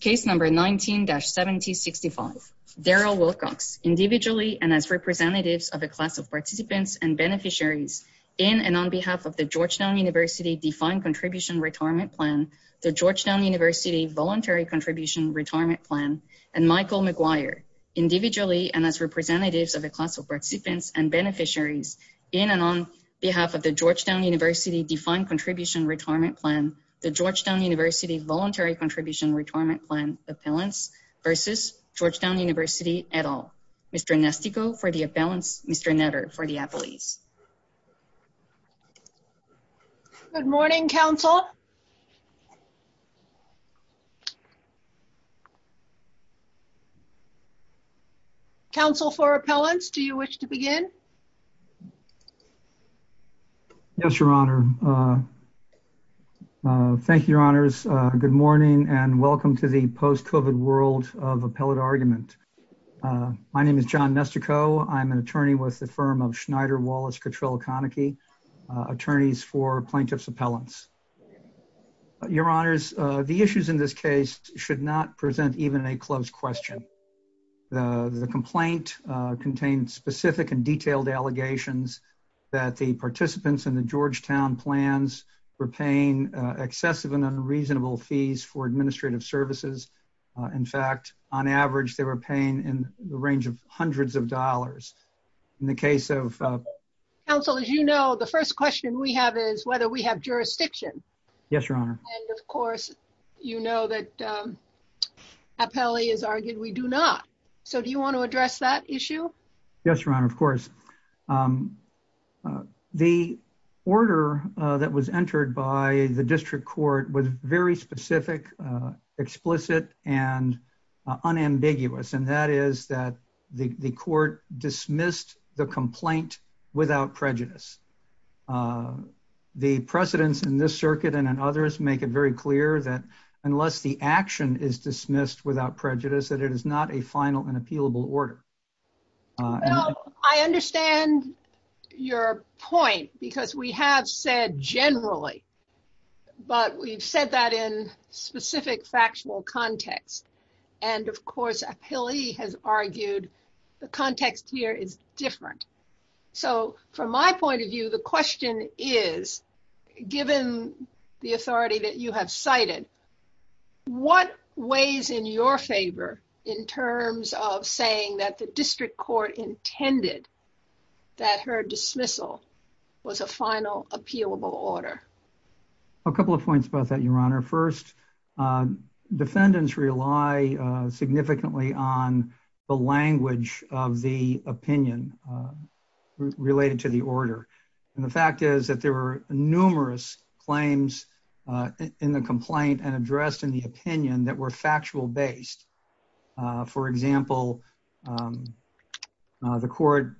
Case number 19-7065. Darrell Wilcox, individually and as representatives of a class of participants and beneficiaries, in and on behalf of the Georgetown University Defined Contribution Retirement Plan, the Georgetown University Voluntary Contribution Retirement Plan, and Michael McGuire, individually and as representatives of a class of participants and beneficiaries, in and on behalf of the Georgetown University Defined Contribution Retirement Plan, the Georgetown University Voluntary Contribution Retirement Plan appellants, versus Georgetown University et al. Mr. Nestico for the appellants, Mr. Netter for the appellees. Good morning, counsel. Counsel for appellants, do you wish to begin? Yes, Your Honor. Thank you, Your Honors. Good morning, and welcome to the post-COVID world of appellate argument. My name is John Nestico. I'm an attorney with the firm of Schneider-Wallace Cotrill-Konecki, attorneys for plaintiff's appellants. Your Honors, the issues in this case should not present even a closed question. The complaint contains specific and detailed allegations that the participants in the Georgetown plans were paying excessive and unreasonable fees for administrative services. In fact, on average, they were paying in the range of hundreds of dollars. In the case of... Counsel, as you know, the first question we have is whether we have jurisdiction. Yes, Your Honor. And of course, you know that appellee has argued we do not. So do you want to address that issue? Yes, Your Honor, of course. The order that was entered by the district court was very specific, explicit, and unambiguous. And that is that the court dismissed the complaint without prejudice. The precedents in this circuit and in others make it very clear that unless the action is dismissed without prejudice, that it is not a final and appealable order. I understand your point because we have said generally, but we've said that in specific factual context. And of course, appellee has argued the context here is different. So from my point of view, the question is, given the authority that you have cited, what weighs in your favor in terms of saying that the district court intended that her dismissal was a final appealable order? A couple of points about that, Your Honor. First, defendants rely significantly on the language of the opinion related to the order. And the fact is there were numerous claims in the complaint and addressed in the opinion that were factual based. For example, the court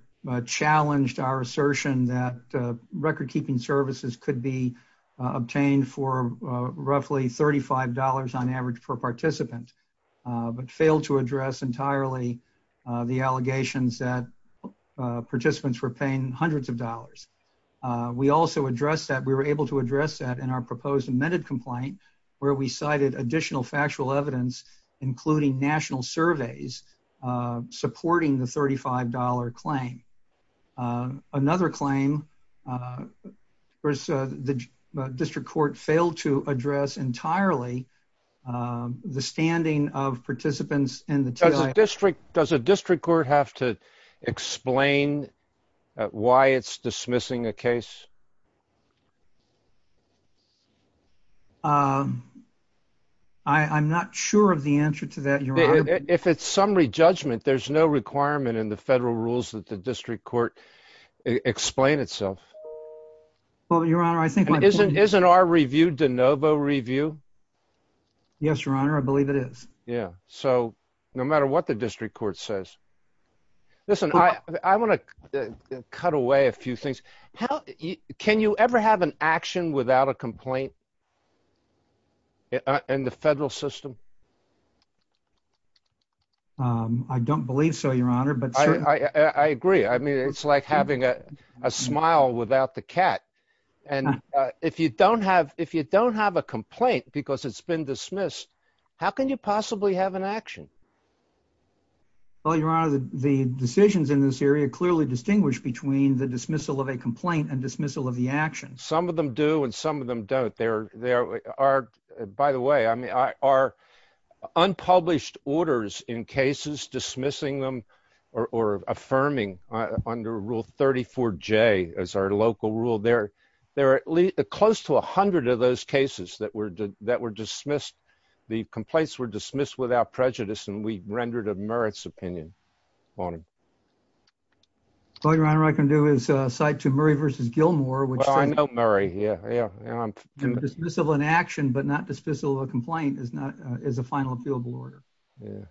challenged our assertion that record keeping services could be obtained for roughly $35 on average per participant, but failed to address entirely the allegations that that we were able to address that in our proposed amended complaint, where we cited additional factual evidence, including national surveys, supporting the $35 claim. Another claim was the district court failed to address entirely the standing of participants in the district. Does a district court have to explain why it's dismissing a case? I'm not sure of the answer to that, Your Honor. If it's summary judgment, there's no requirement in the federal rules that the district court explain itself. Well, Your Honor, I think- Isn't our review de novo review? Yes, Your Honor. I believe it is. Yeah. So no matter what the district court says, listen, I want to cut away a few things. Can you ever have an action without a complaint in the federal system? I don't believe so, Your Honor, but- I agree. I mean, it's like having a complaint because it's been dismissed. How can you possibly have an action? Well, Your Honor, the decisions in this area clearly distinguish between the dismissal of a complaint and dismissal of the action. Some of them do and some of them don't. By the way, I mean, are unpublished orders in cases dismissing them or affirming under Rule 34J as our local rule, there are close to a hundred of those cases that were dismissed. The complaints were dismissed without prejudice and we rendered a merits opinion on them. Well, Your Honor, what I can do is cite to Murray v. Gilmore, which- Well, I know Murray. Yeah, yeah. Dismissal of an action but not dismissal of a complaint is a final appealable order. Yeah.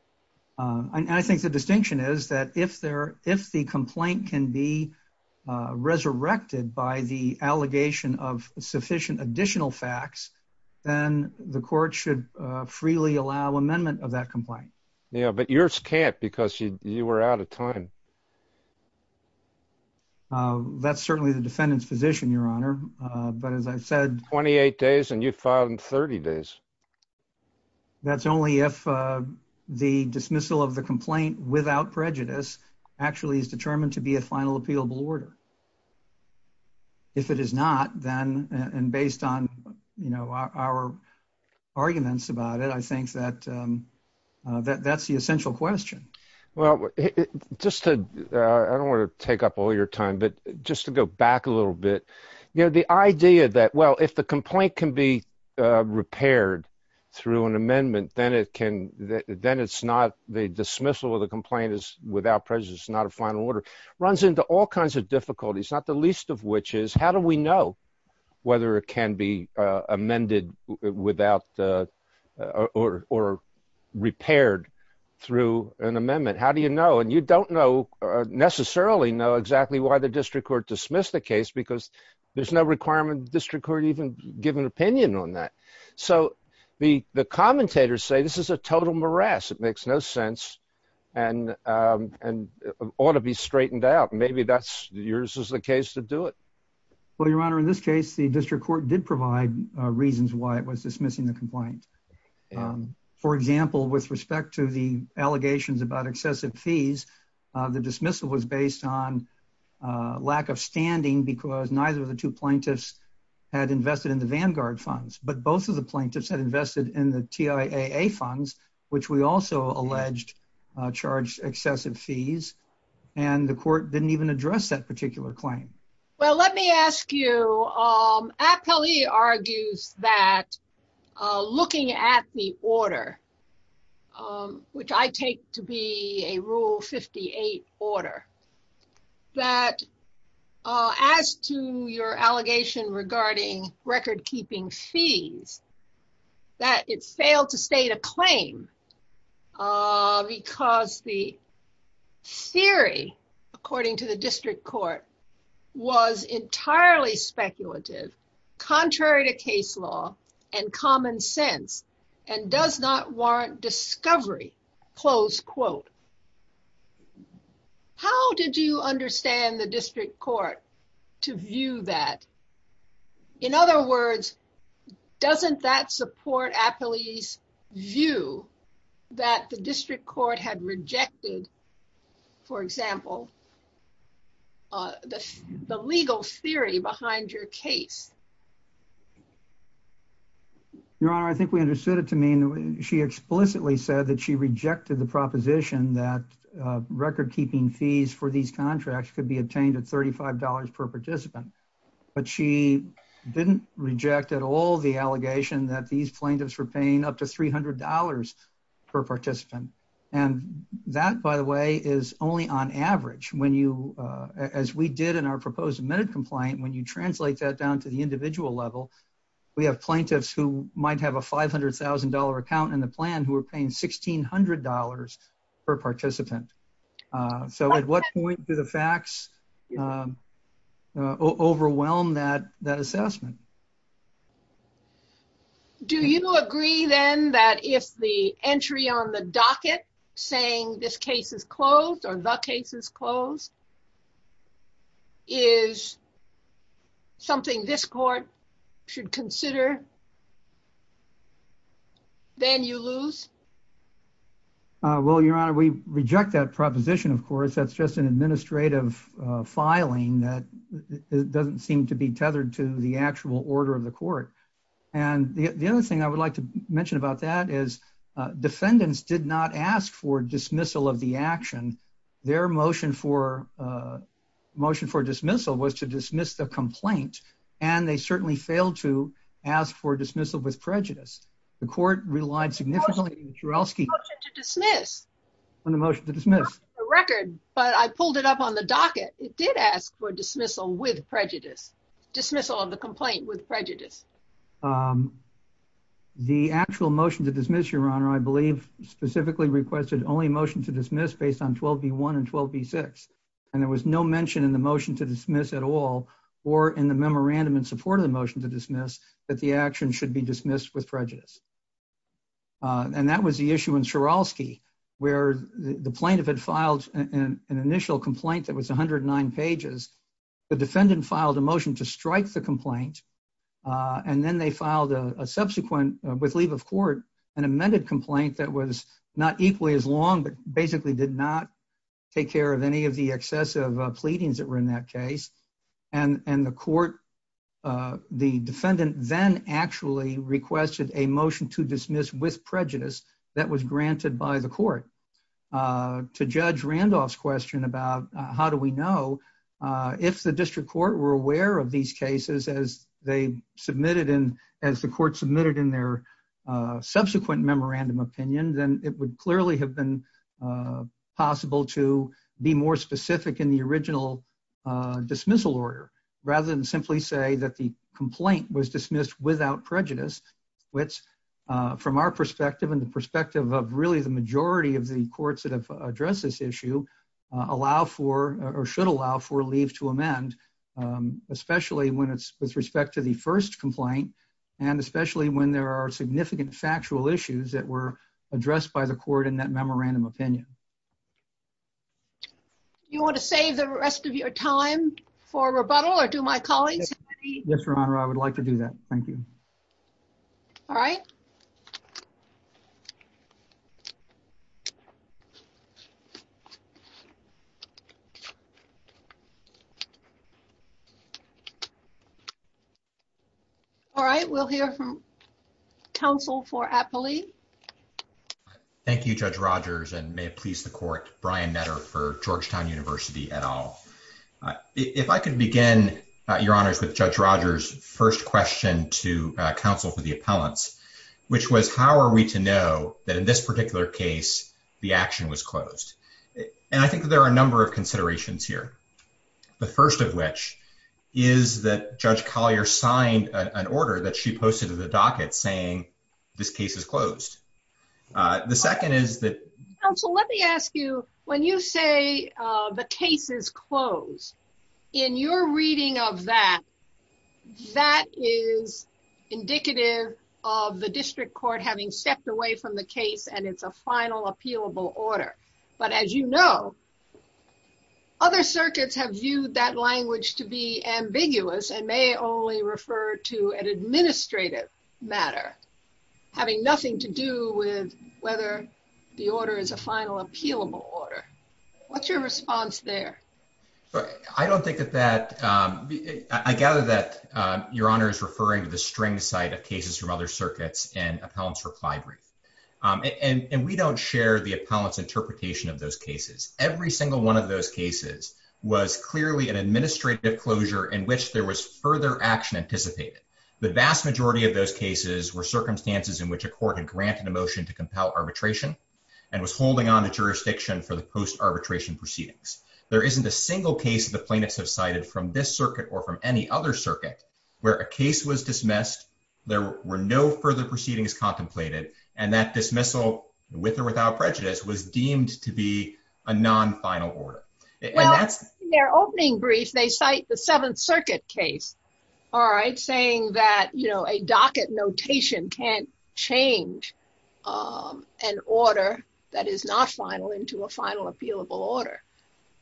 And I think the distinction is that if the complaint can be resurrected by the allegation of sufficient additional facts, then the court should freely allow amendment of that complaint. Yeah, but yours can't because you were out of time. That's certainly the defendant's position, Your Honor. But as I said- 28 days and you filed in 30 days. That's only if the dismissal of the complaint without prejudice actually is determined to be a final appealable order. If it is not, then, and based on our arguments about it, I think that's the essential question. Well, just to, I don't want to take up all your time, but just to go back a little bit. The idea that, well, if the complaint can be repaired through an amendment, then it's not, the dismissal of the complaint is without prejudice, it's not a final order, runs into all kinds of difficulties, not the least of which is, how do we know whether it can be amended without, or repaired through an amendment? How do you know? And you don't know, necessarily know exactly why the district court dismissed the case, because there's no requirement the district court even give an opinion on that. So the commentators say, this is a total morass. It makes no sense and ought to be straightened out. Maybe that's, yours is the case to do it. Well, Your Honor, in this case, the district court did provide reasons why it was dismissing the complaint. For example, with respect to the allegations about excessive fees, the dismissal was based on lack of standing because neither of the two plaintiffs had invested in the Vanguard funds, but both of the plaintiffs had invested in the TIAA funds, which we also alleged charged excessive fees. And the court didn't even address that particular claim. Well, let me ask you, Appellee argues that looking at the order, which I take to be a rule 58 order, that as to your allegation regarding record keeping fees, that it failed to state a claim because the theory, according to the district court, was entirely speculative, contrary to case law and common sense, and does not warrant discovery, close quote. How did you understand the district court to view that? In other words, doesn't that support Appellee's view that the district court had rejected, for example, the legal theory behind your case? Your Honor, I think we understood it to mean she explicitly said that she rejected the proposition that record keeping fees for these contracts could be obtained at $35 per participant, but she didn't reject at all the allegation that these plaintiffs were paying up to $300 per participant. And that, by the way, is only on average. As we did in our proposed admitted complaint, when you translate that down to the individual level, we have plaintiffs who might have a $500,000 account in the plan who are paying $1,600 per participant. So at what point do the facts overwhelm that assessment? Do you agree then that if the entry on the docket saying this case is closed or the case is closed is something this court should consider, then you lose? Well, Your Honor, we reject that proposition, of course. That's just an administrative filing that doesn't seem to be tethered to the actual order of the court. And the other thing I would like to mention about that is defendants did not ask for dismissal of the action. Their motion for motion for dismissal was to dismiss the complaint, and they certainly failed to ask for dismissal with prejudice. The court relied significantly on the motion to dismiss. I pulled it up on the docket. It did ask for dismissal with prejudice, dismissal of the complaint with prejudice. The actual motion to dismiss, Your Honor, I believe specifically requested only motion to dismiss based on 12b1 and 12b6, and there was no mention in the motion to dismiss at all or in the memorandum in support of the that the action should be dismissed with prejudice. And that was the issue in Sieralski, where the plaintiff had filed an initial complaint that was 109 pages. The defendant filed a motion to strike the complaint, and then they filed a subsequent, with leave of court, an amended complaint that was not equally as long but basically did not take care of any of the then actually requested a motion to dismiss with prejudice that was granted by the court. To Judge Randolph's question about how do we know, if the district court were aware of these cases as they submitted in, as the court submitted in their subsequent memorandum opinion, then it would clearly have been possible to be more specific in the original dismissal order rather than simply say that the complaint was dismissed without prejudice, which from our perspective and the perspective of really the majority of the courts that have addressed this issue allow for or should allow for leave to amend, especially when it's with respect to the first complaint and especially when there are significant factual issues that were addressed by the court in that memorandum opinion. Do you want to save the rest of your time for rebuttal or do my colleagues have any? Yes, Your Honor, I would like to do that. Thank you. All right. All right, we'll hear from counsel for Appley. Thank you, Judge Rogers, and may it please the court, Brian Netter for Georgetown University et al. If I could begin, Your Honors, with Judge Rogers' first question to counsel for the appellants. Which was, how are we to know that in this particular case the action was closed? And I think there are a number of considerations here. The first of which is that Judge Collier signed an order that she posted to the docket saying this case is closed. The second is that... Counsel, let me ask you, when you say the case is closed, in your reading of that, that is indicative of the district court having stepped away from the case and it's a final appealable order. But as you know, other circuits have viewed that language to be ambiguous and may only refer to an administrative matter having nothing to do with whether the order is a final appealable order. What's your response there? I don't think that that... I gather that Your Honor is referring to the string side of cases from other circuits and appellants' reply brief. And we don't share the appellant's interpretation of those cases. Every single one of those cases was clearly an administrative closure in which there was further action anticipated. The vast majority of those cases were circumstances in which a court had granted a motion to compel arbitration and was holding on to jurisdiction for the post-arbitration proceedings. There isn't a single case the plaintiffs have cited from this circuit or from any other circuit where a case was dismissed, there were no further proceedings contemplated, and that dismissal, with or without prejudice, was deemed to be a non-final order. Well, in their opening brief, they cite the Seventh Circuit case, all right, saying that a docket notation can't change an order that is not final into a final appealable order.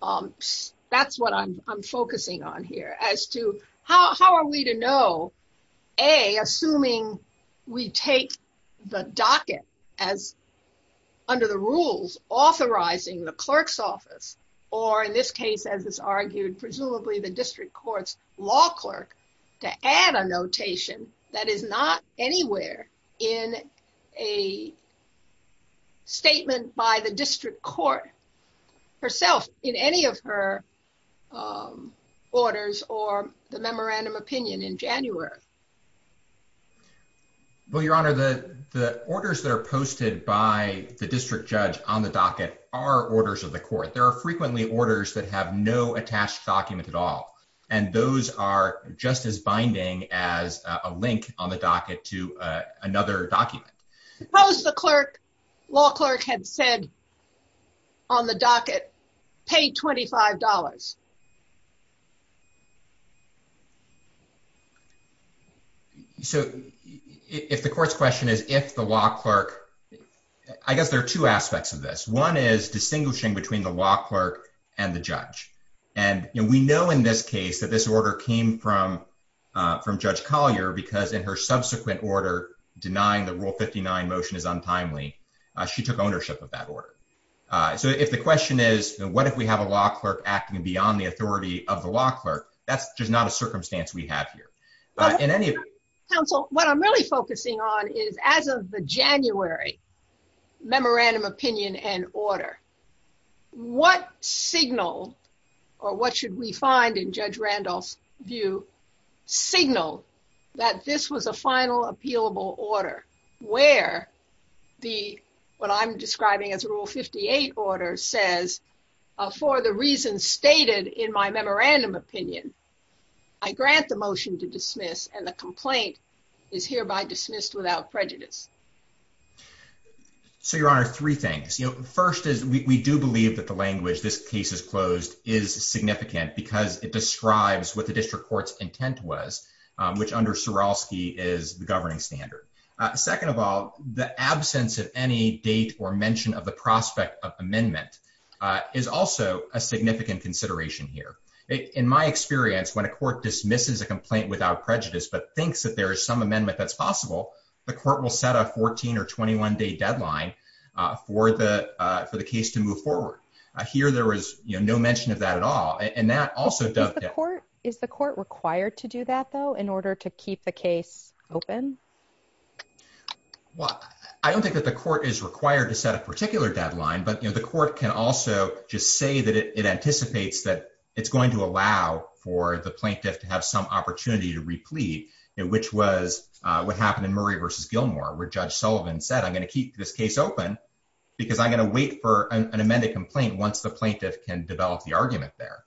That's what I'm focusing on here, as to how are we to know, A, assuming we take the docket under the rules authorizing the clerk's office, or in this case, as is argued, presumably the district court's law clerk, to add a notation that is not anywhere in a statement by the district court herself in any of her orders or the memorandum opinion in January. Well, Your Honor, the orders that are posted by the district judge on the docket are orders of court. There are frequently orders that have no attached document at all, and those are just as binding as a link on the docket to another document. Suppose the clerk, law clerk, had said on the docket, pay $25. So if the court's question is if the law clerk, I guess there are two aspects of this. One is distinguishing between the law clerk and the judge. And we know in this case that this order came from Judge Collier because in her subsequent order denying the Rule 59 motion is untimely. She took ownership of that order. So if the question is what if we have a law clerk acting beyond the authority of the law clerk, that's just not a circumstance we have here. But in any council, what I'm really focusing on is as of the January memorandum opinion and order, what signal or what should we find in Judge Randolph's view signal that this was a final appealable order where the what I'm describing as a Rule 58 order says for the reasons stated in my memorandum opinion, I grant the motion to dismiss and the complaint is hereby dismissed without prejudice. So, Your Honor, three things. You know, first is we do believe that the language, this case is closed, is significant because it describes what the district court's intent was, which under Surolski is the governing standard. Second of all, the absence of any date or mention of the prospect of amendment is also a significant consideration here. In my experience, when a court dismisses a complaint without prejudice, but thinks that there is some amendment that's possible, the court will set a 14 or 21 day deadline for the for the case to move forward. Here, there is no mention of that at all. And that also does the court. Is the court required to do that, though, in order to keep the case open? Well, I don't think that the court is required to set a particular deadline, but the court can also just say that it anticipates that it's going to allow for the plaintiff to have some opportunity to replete, which was what happened in Murray versus Gilmore, where Judge Sullivan said, I'm going to keep this case open because I'm going to wait for an amended complaint once the plaintiff can develop the argument there.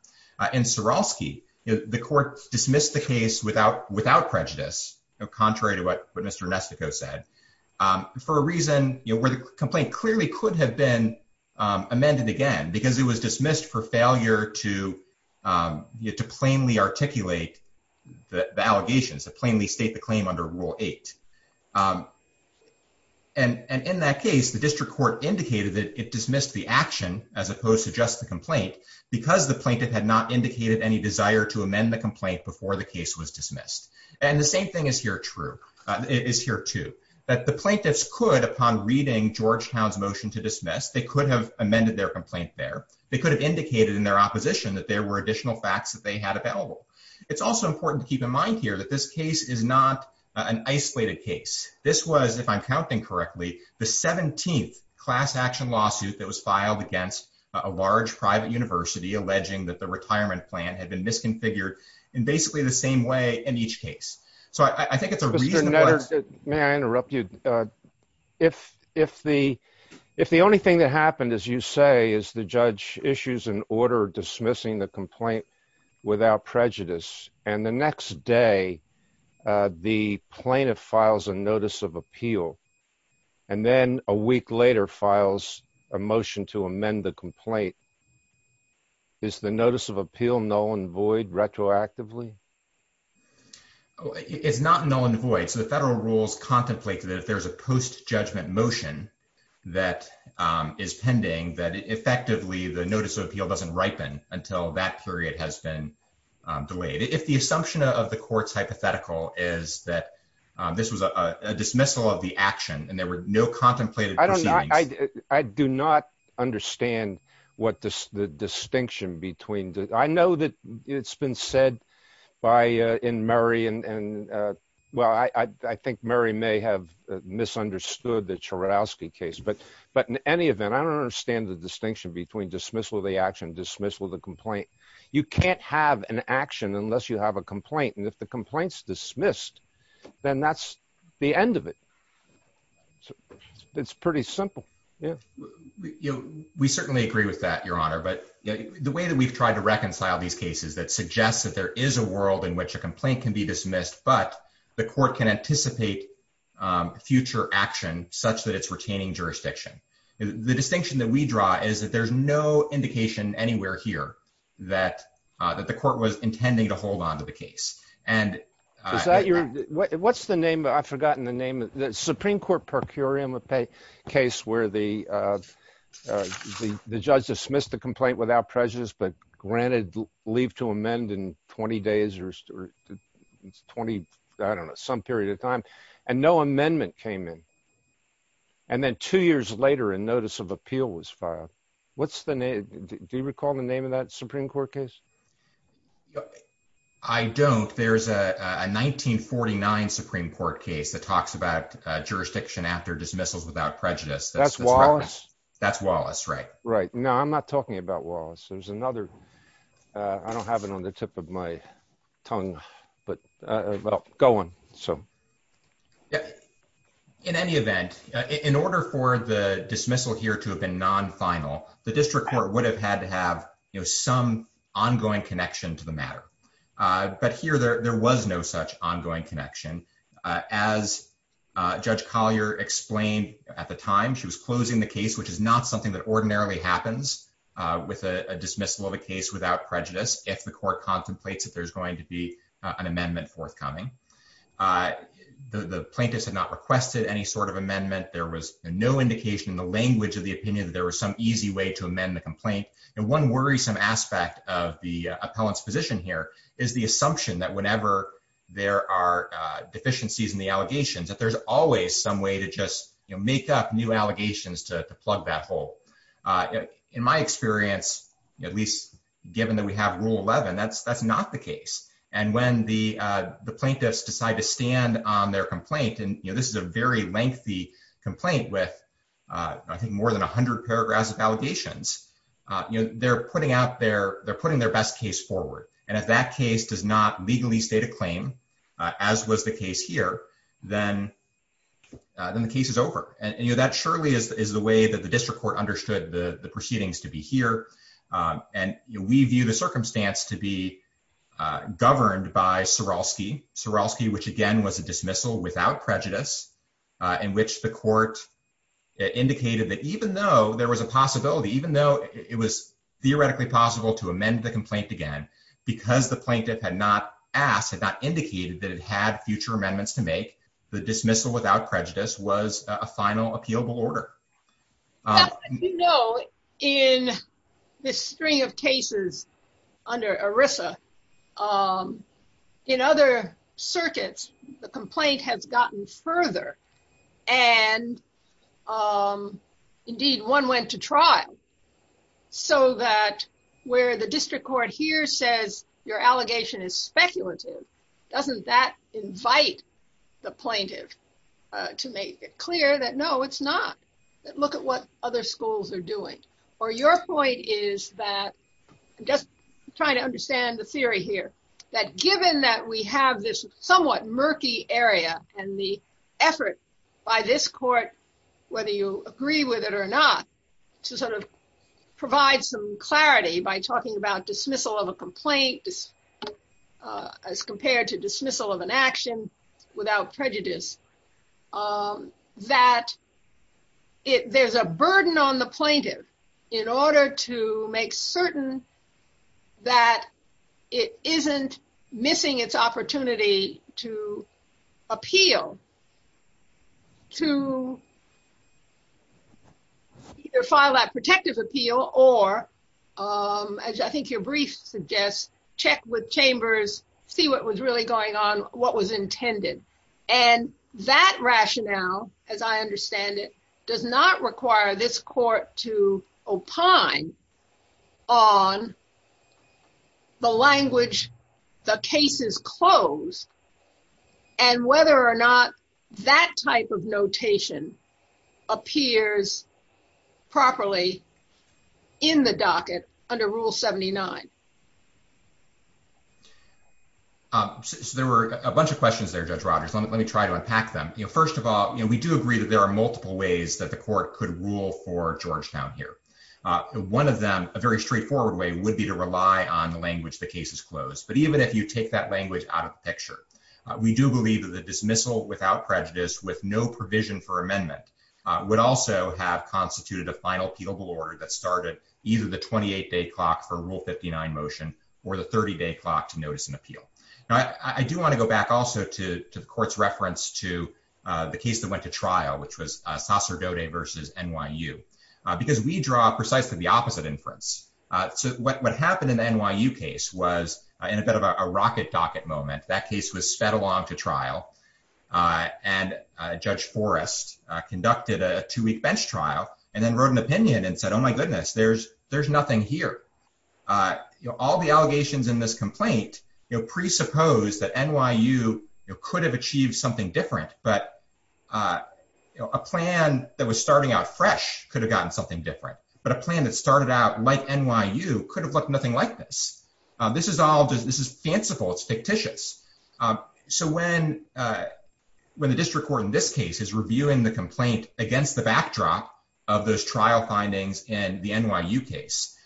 In Surolski, the court dismissed the case without without prejudice, contrary to what Mr. Nestico said, for a reason where the complaint clearly could have been amended again, because it was dismissed for failure to get to plainly articulate the allegations that plainly state the claim under Rule 8. And in that case, the district court indicated that it dismissed the action as opposed to just the complaint, because the plaintiff had not indicated any desire to amend the complaint before the case was dismissed. And the same thing is here true, is here too, that the plaintiffs could, upon reading Georgetown's motion to dismiss, they could have amended their complaint there, they could have indicated in their opposition that there were additional facts that they had available. It's also important to keep in mind here that this case is not an isolated case. This was, if I'm counting correctly, the 17th class action lawsuit that was filed against a large private university alleging that the retirement plan had been misconfigured in basically the same way in each case. So I think it's a reason. May I interrupt you? If the only thing that happened, as you say, is the judge issues an order dismissing the complaint without prejudice, and the next day, the plaintiff files a notice of appeal, and then a week later files a motion to amend the complaint. Is the notice of appeal null and void retroactively? It's not null and void. So the federal rules contemplate that if there's a post-judgment motion that is pending, that effectively the notice of appeal doesn't ripen until that period has been delayed. If the assumption of the court's hypothetical is that this was a dismissal of the action, and there were no contemplated proceedings- It's been said in Murray, and well, I think Murray may have misunderstood the Churowsky case, but in any event, I don't understand the distinction between dismissal of the action and dismissal of the complaint. You can't have an action unless you have a complaint, and if the complaint's dismissed, then that's the end of it. It's pretty simple. Yeah. We certainly agree with that, Your Honor, but the way that we've tried to reconcile these cases that suggests that there is a world in which a complaint can be dismissed, but the court can anticipate future action such that it's retaining jurisdiction. The distinction that we draw is that there's no indication anywhere here that the court was intending to hold onto the case. What's the name? I've forgotten the name. The Supreme Court per curiam case where the judge dismissed the complaint without prejudice, but granted leave to amend in 20 days or 20, I don't know, some period of time, and no amendment came in, and then two years later, a notice of appeal was filed. What's the name? Do you recall the name of that Supreme Court case? I don't. There's a 1949 Supreme Court case that talks about jurisdiction after dismissals without prejudice. That's Wallace? That's Wallace, right. Right. No, I'm not talking about Wallace. There's another. I don't have it on the tip of my tongue, but well, go on. In any event, in order for the dismissal here to have been non-final, the district court would have had to have some ongoing connection to the matter, but here there was no such ongoing connection. As Judge Collier explained at the time, she was closing the case, which is not something that ordinarily happens with a dismissal of a case without prejudice if the court contemplates that there's going to be an amendment forthcoming. The plaintiffs had not requested any sort of amendment. There was no indication in the language of the opinion that there was some easy way to amend the complaint, and one worrisome aspect of the appellant's position here is the assumption that whenever there are deficiencies in the allegations, that there's always some way to just make up new allegations to plug that hole. In my experience, at least given that we have Rule 11, that's not the case, and when the plaintiffs decide to stand on their complaint, and this is a very lengthy complaint with I think more than 100 paragraphs of allegations, they're putting their best case forward, and if that case does not legally state a claim, as was the case here, then the case is over, and that surely is the way that the district court understood the proceedings to be here, and we view the circumstance to be governed by Soroski, which again was a dismissal without prejudice in which the court indicated that even though there was a possibility, even though it was because the plaintiff had not asked, had not indicated that it had future amendments to make, the dismissal without prejudice was a final appealable order. You know, in this string of cases under ERISA, in other circuits, the complaint has gotten further, and indeed one went to trial, so that where the district court here says your allegation is speculative, doesn't that invite the plaintiff to make it clear that no, it's not, that look at what other schools are doing, or your point is that, I'm just trying to understand the theory here, that given that we have this somewhat murky area, and the effort by this court, whether you agree with it or not, to sort of provide some clarity by talking about dismissal of a complaint, as compared to dismissal of an action without prejudice, that there's a burden on the plaintiff in order to make certain that it isn't missing its opportunity to appeal, to either file that protective appeal, or as I think your brief suggests, check with chambers, see what was really going on, what was intended, and that rationale, as I understand it, does not require this court to opine on the language the cases close, and whether or not that type of notation appears properly in the docket under Rule 79. So there were a bunch of questions there, Judge Rogers, let me try to unpack them. You know, we do agree that there are multiple ways that the court could rule for Georgetown here. One of them, a very straightforward way, would be to rely on the language the cases close, but even if you take that language out of the picture, we do believe that the dismissal without prejudice, with no provision for amendment, would also have constituted a final appealable order that started either the 28-day clock for Rule 59 motion, or the 30-day clock to notice and appeal. Now, I do want to go back also to the court's reference to the case that went to trial, which was Sacerdote v. NYU, because we draw precisely the opposite inference. So what happened in the NYU case was, in a bit of a rocket docket moment, that case was sped along to trial, and Judge Forrest conducted a two-week bench trial, and then wrote an opinion and said, my goodness, there's nothing here. All the allegations in this complaint presupposed that NYU could have achieved something different, but a plan that was starting out fresh could have gotten something different. But a plan that started out like NYU could have looked nothing like this. This is fanciful, it's fictitious. So when the district court in this case is backdrop of those trial findings in the NYU case,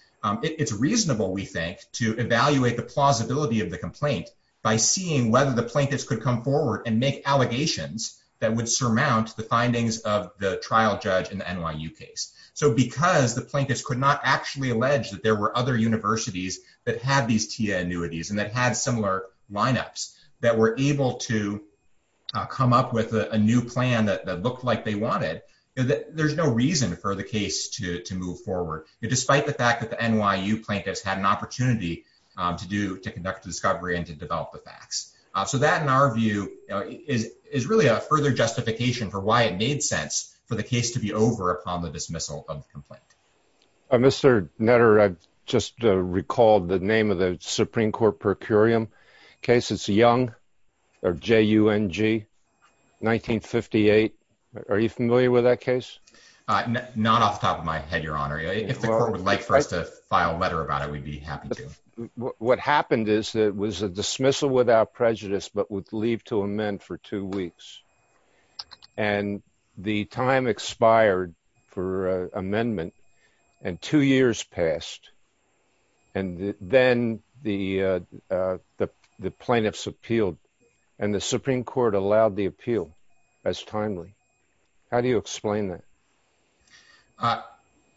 it's reasonable, we think, to evaluate the plausibility of the complaint by seeing whether the plaintiffs could come forward and make allegations that would surmount the findings of the trial judge in the NYU case. So because the plaintiffs could not actually allege that there were other universities that had these TIA annuities and that had similar lineups that were able to come up with a new plan that looked like they wanted, there's no reason for the case to move forward, despite the fact that the NYU plaintiffs had an opportunity to conduct a discovery and to develop the facts. So that, in our view, is really a further justification for why it made sense for the case to be over upon the dismissal of the complaint. Mr. Netter, I just recalled the name of the Supreme Court Procurium case. It's Young, or J-U-N-G, 1958. Are you familiar with that case? Not off the top of my head, Your Honor. If the court would like for us to file a letter about it, we'd be happy to. What happened is that it was a dismissal without prejudice but would leave to amend for two weeks. And the time expired for amendment and two years passed. And then the plaintiffs appealed and the Supreme Court allowed the appeal as timely. How do you explain that?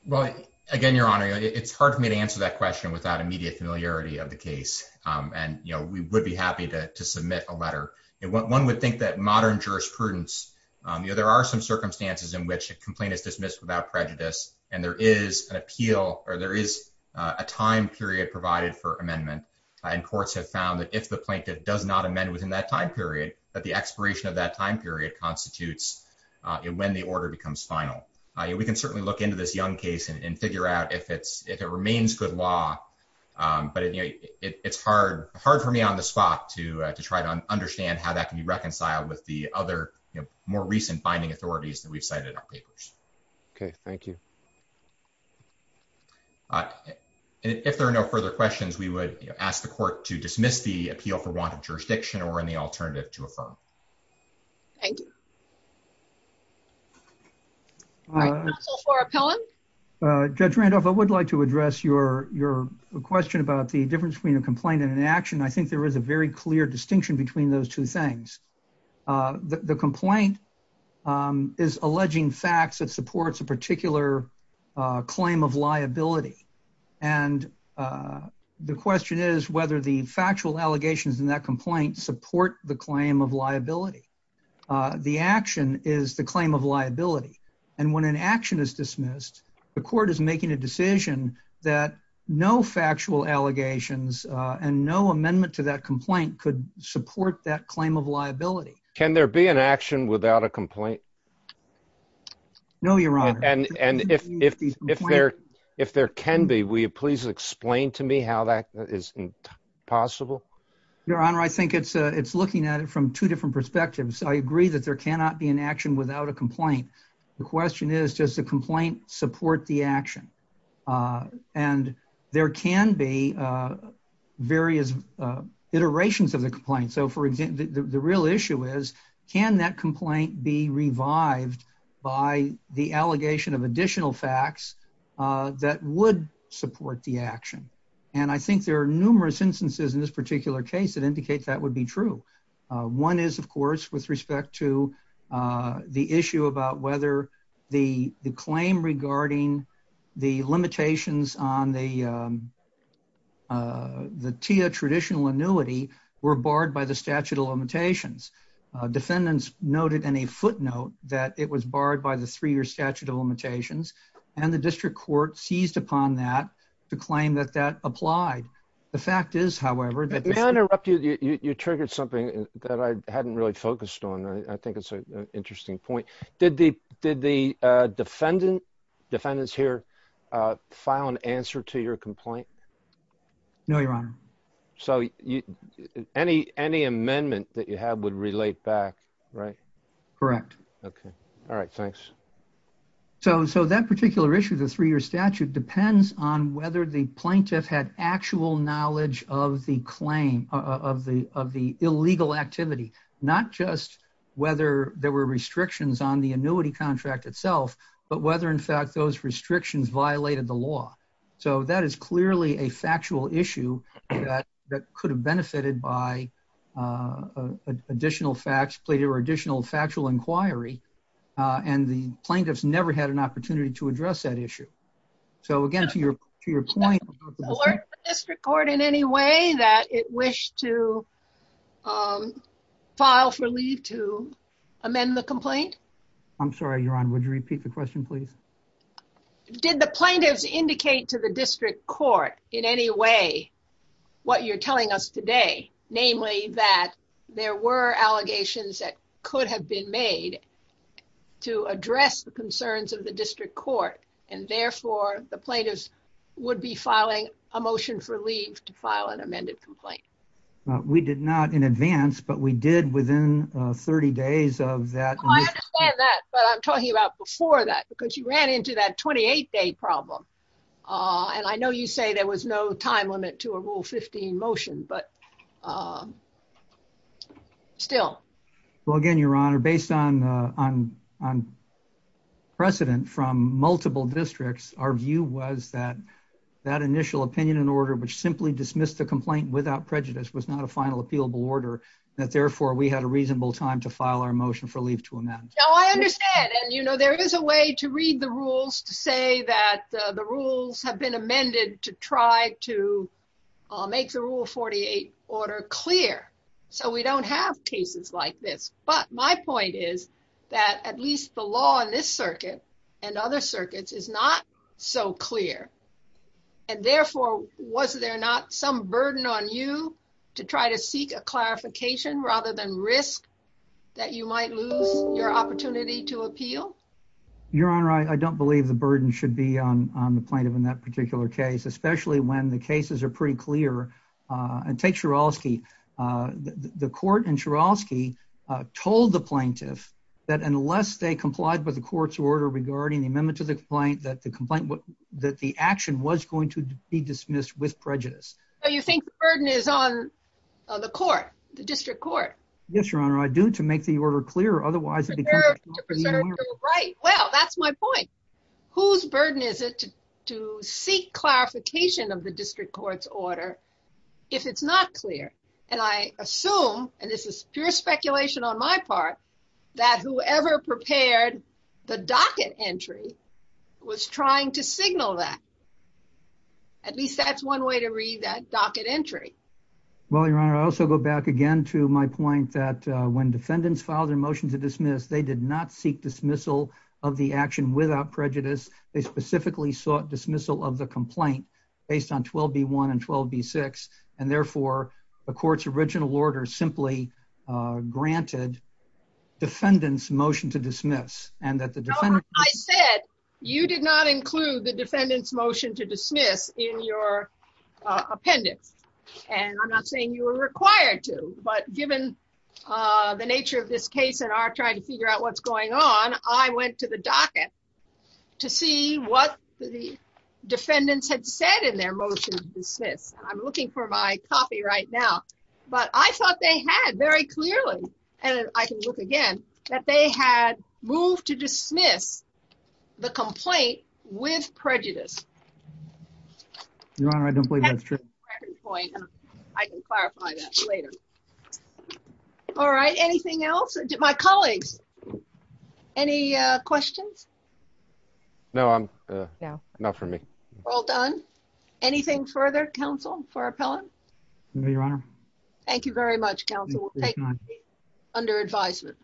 Well, again, Your Honor, it's hard for me to answer that question without immediate familiarity of the case. And we would be happy to submit a letter. One would think that modern jurisprudence, there are some circumstances in which a complaint is dismissed without prejudice and there is a time period provided for amendment. And courts have found that if the plaintiff does not amend within that time period, that the expiration of that time period constitutes when the order becomes final. We can certainly look into this Young case and figure out if it remains good law. But it's hard for me on the spot to try to understand how that can be reconciled with the other more recent binding authorities that we've cited in our papers. Okay, thank you. All right. If there are no further questions, we would ask the court to dismiss the appeal for wanted jurisdiction or any alternative to affirm. Thank you. All right, counsel for appellant? Judge Randolph, I would like to address your question about the difference between a complaint and an action. I think there is a very clear distinction between two things. The complaint is alleging facts that supports a particular claim of liability. And the question is whether the factual allegations in that complaint support the claim of liability. The action is the claim of liability. And when an action is dismissed, the court is making a decision that no factual allegations and no amendment to that complaint could support that claim of liability. Can there be an action without a complaint? No, Your Honor. And if there can be, will you please explain to me how that is possible? Your Honor, I think it's looking at it from two different perspectives. I agree that there cannot be an action without a complaint. The question is, does the complaint support the action? And there can be various iterations of the complaint. So, for example, the real issue is, can that complaint be revived by the allegation of additional facts that would support the action? And I think there are numerous instances in this particular case that indicate that would be true. One is, of course, with respect to the issue about whether the claim regarding the limitations on the TIA traditional annuity were barred by the statute of limitations. Defendants noted in a footnote that it was barred by the three-year statute of limitations. And the district court seized upon that to claim that that applied. The fact is, however, May I interrupt you? You triggered something that I hadn't really focused on. I think it's an interesting point. Did the defendants here file an answer to your complaint? No, Your Honor. So any amendment that you have would relate back, right? Correct. Okay. All right. Thanks. So that particular issue, the three-year statute, depends on whether the plaintiff had actual knowledge of the claim, of the illegal activity. Not just whether there were restrictions on the annuity contract itself, but whether, in fact, those restrictions violated the law. So that is clearly a factual issue that could have benefited by additional factual inquiry. And the plaintiffs never had an opportunity to address that issue. So again, to your point about the district court in any way that it wished to file for leave to amend the complaint? I'm sorry, Your Honor. Would you repeat the question, please? Did the plaintiffs indicate to the district court in any way what you're telling us today? Namely, that there were allegations that could have been made to address the concerns of the plaintiffs, and therefore, the plaintiffs would be filing a motion for leave to file an amended complaint. We did not in advance, but we did within 30 days of that. I understand that, but I'm talking about before that, because you ran into that 28-day problem. And I know you say there was no time limit to a Rule 15 motion, but still. Well, again, Your Honor, based on precedent from multiple districts, our view was that that initial opinion and order, which simply dismissed the complaint without prejudice, was not a final appealable order. That therefore, we had a reasonable time to file our motion for leave to amend. No, I understand. And you know, there is a way to read the rules to say that the rules have been amended to try to make the Rule 48 order clear. So we don't have cases like this. But my point is that at least the law in this circuit and other circuits is not so clear. And therefore, was there not some burden on you to try to seek a clarification rather than risk that you might lose your opportunity to appeal? Your Honor, I don't believe the burden should be on the plaintiff in that particular case, especially when the cases are pretty clear. And take Chorosky. The court in Chorosky told the plaintiff that unless they complied with the court's order regarding the amendment to the complaint, that the action was going to be dismissed with prejudice. So you think the burden is on the court, the district court? Yes, Your Honor, I do, to make the order clear. Otherwise, it becomes a complicated matter. Right. Well, that's my point. Whose burden is it to seek clarification of the district court's order if it's not clear? And I assume, and this is pure speculation on my part, that whoever prepared the docket entry was trying to signal that. At least that's one way to read that docket entry. Well, Your Honor, I also go back again to my point that when defendants filed their motion to dismiss, they did not seek dismissal of the action without prejudice. They specifically sought dismissal of the complaint based on 12B1 and 12B6. And therefore, the court's original order simply granted defendants' motion to dismiss. I said you did not include the defendants' motion to dismiss in your appendix. And I'm not saying you were required to. But given the nature of this case and our trying to figure out what's going on, I went to the docket to see what the defendants had said in their motion to dismiss. I'm looking for my copy right now. But I thought they had very clearly, and I can look again, that they had moved to dismiss the complaint with prejudice. Your Honor, I don't believe that's true. I can clarify that later. All right. Anything else? My colleagues, any questions? No, not for me. All done. Anything further, counsel, for appellant? No, Your Honor. Thank you very much, counsel. We'll take it under advisement.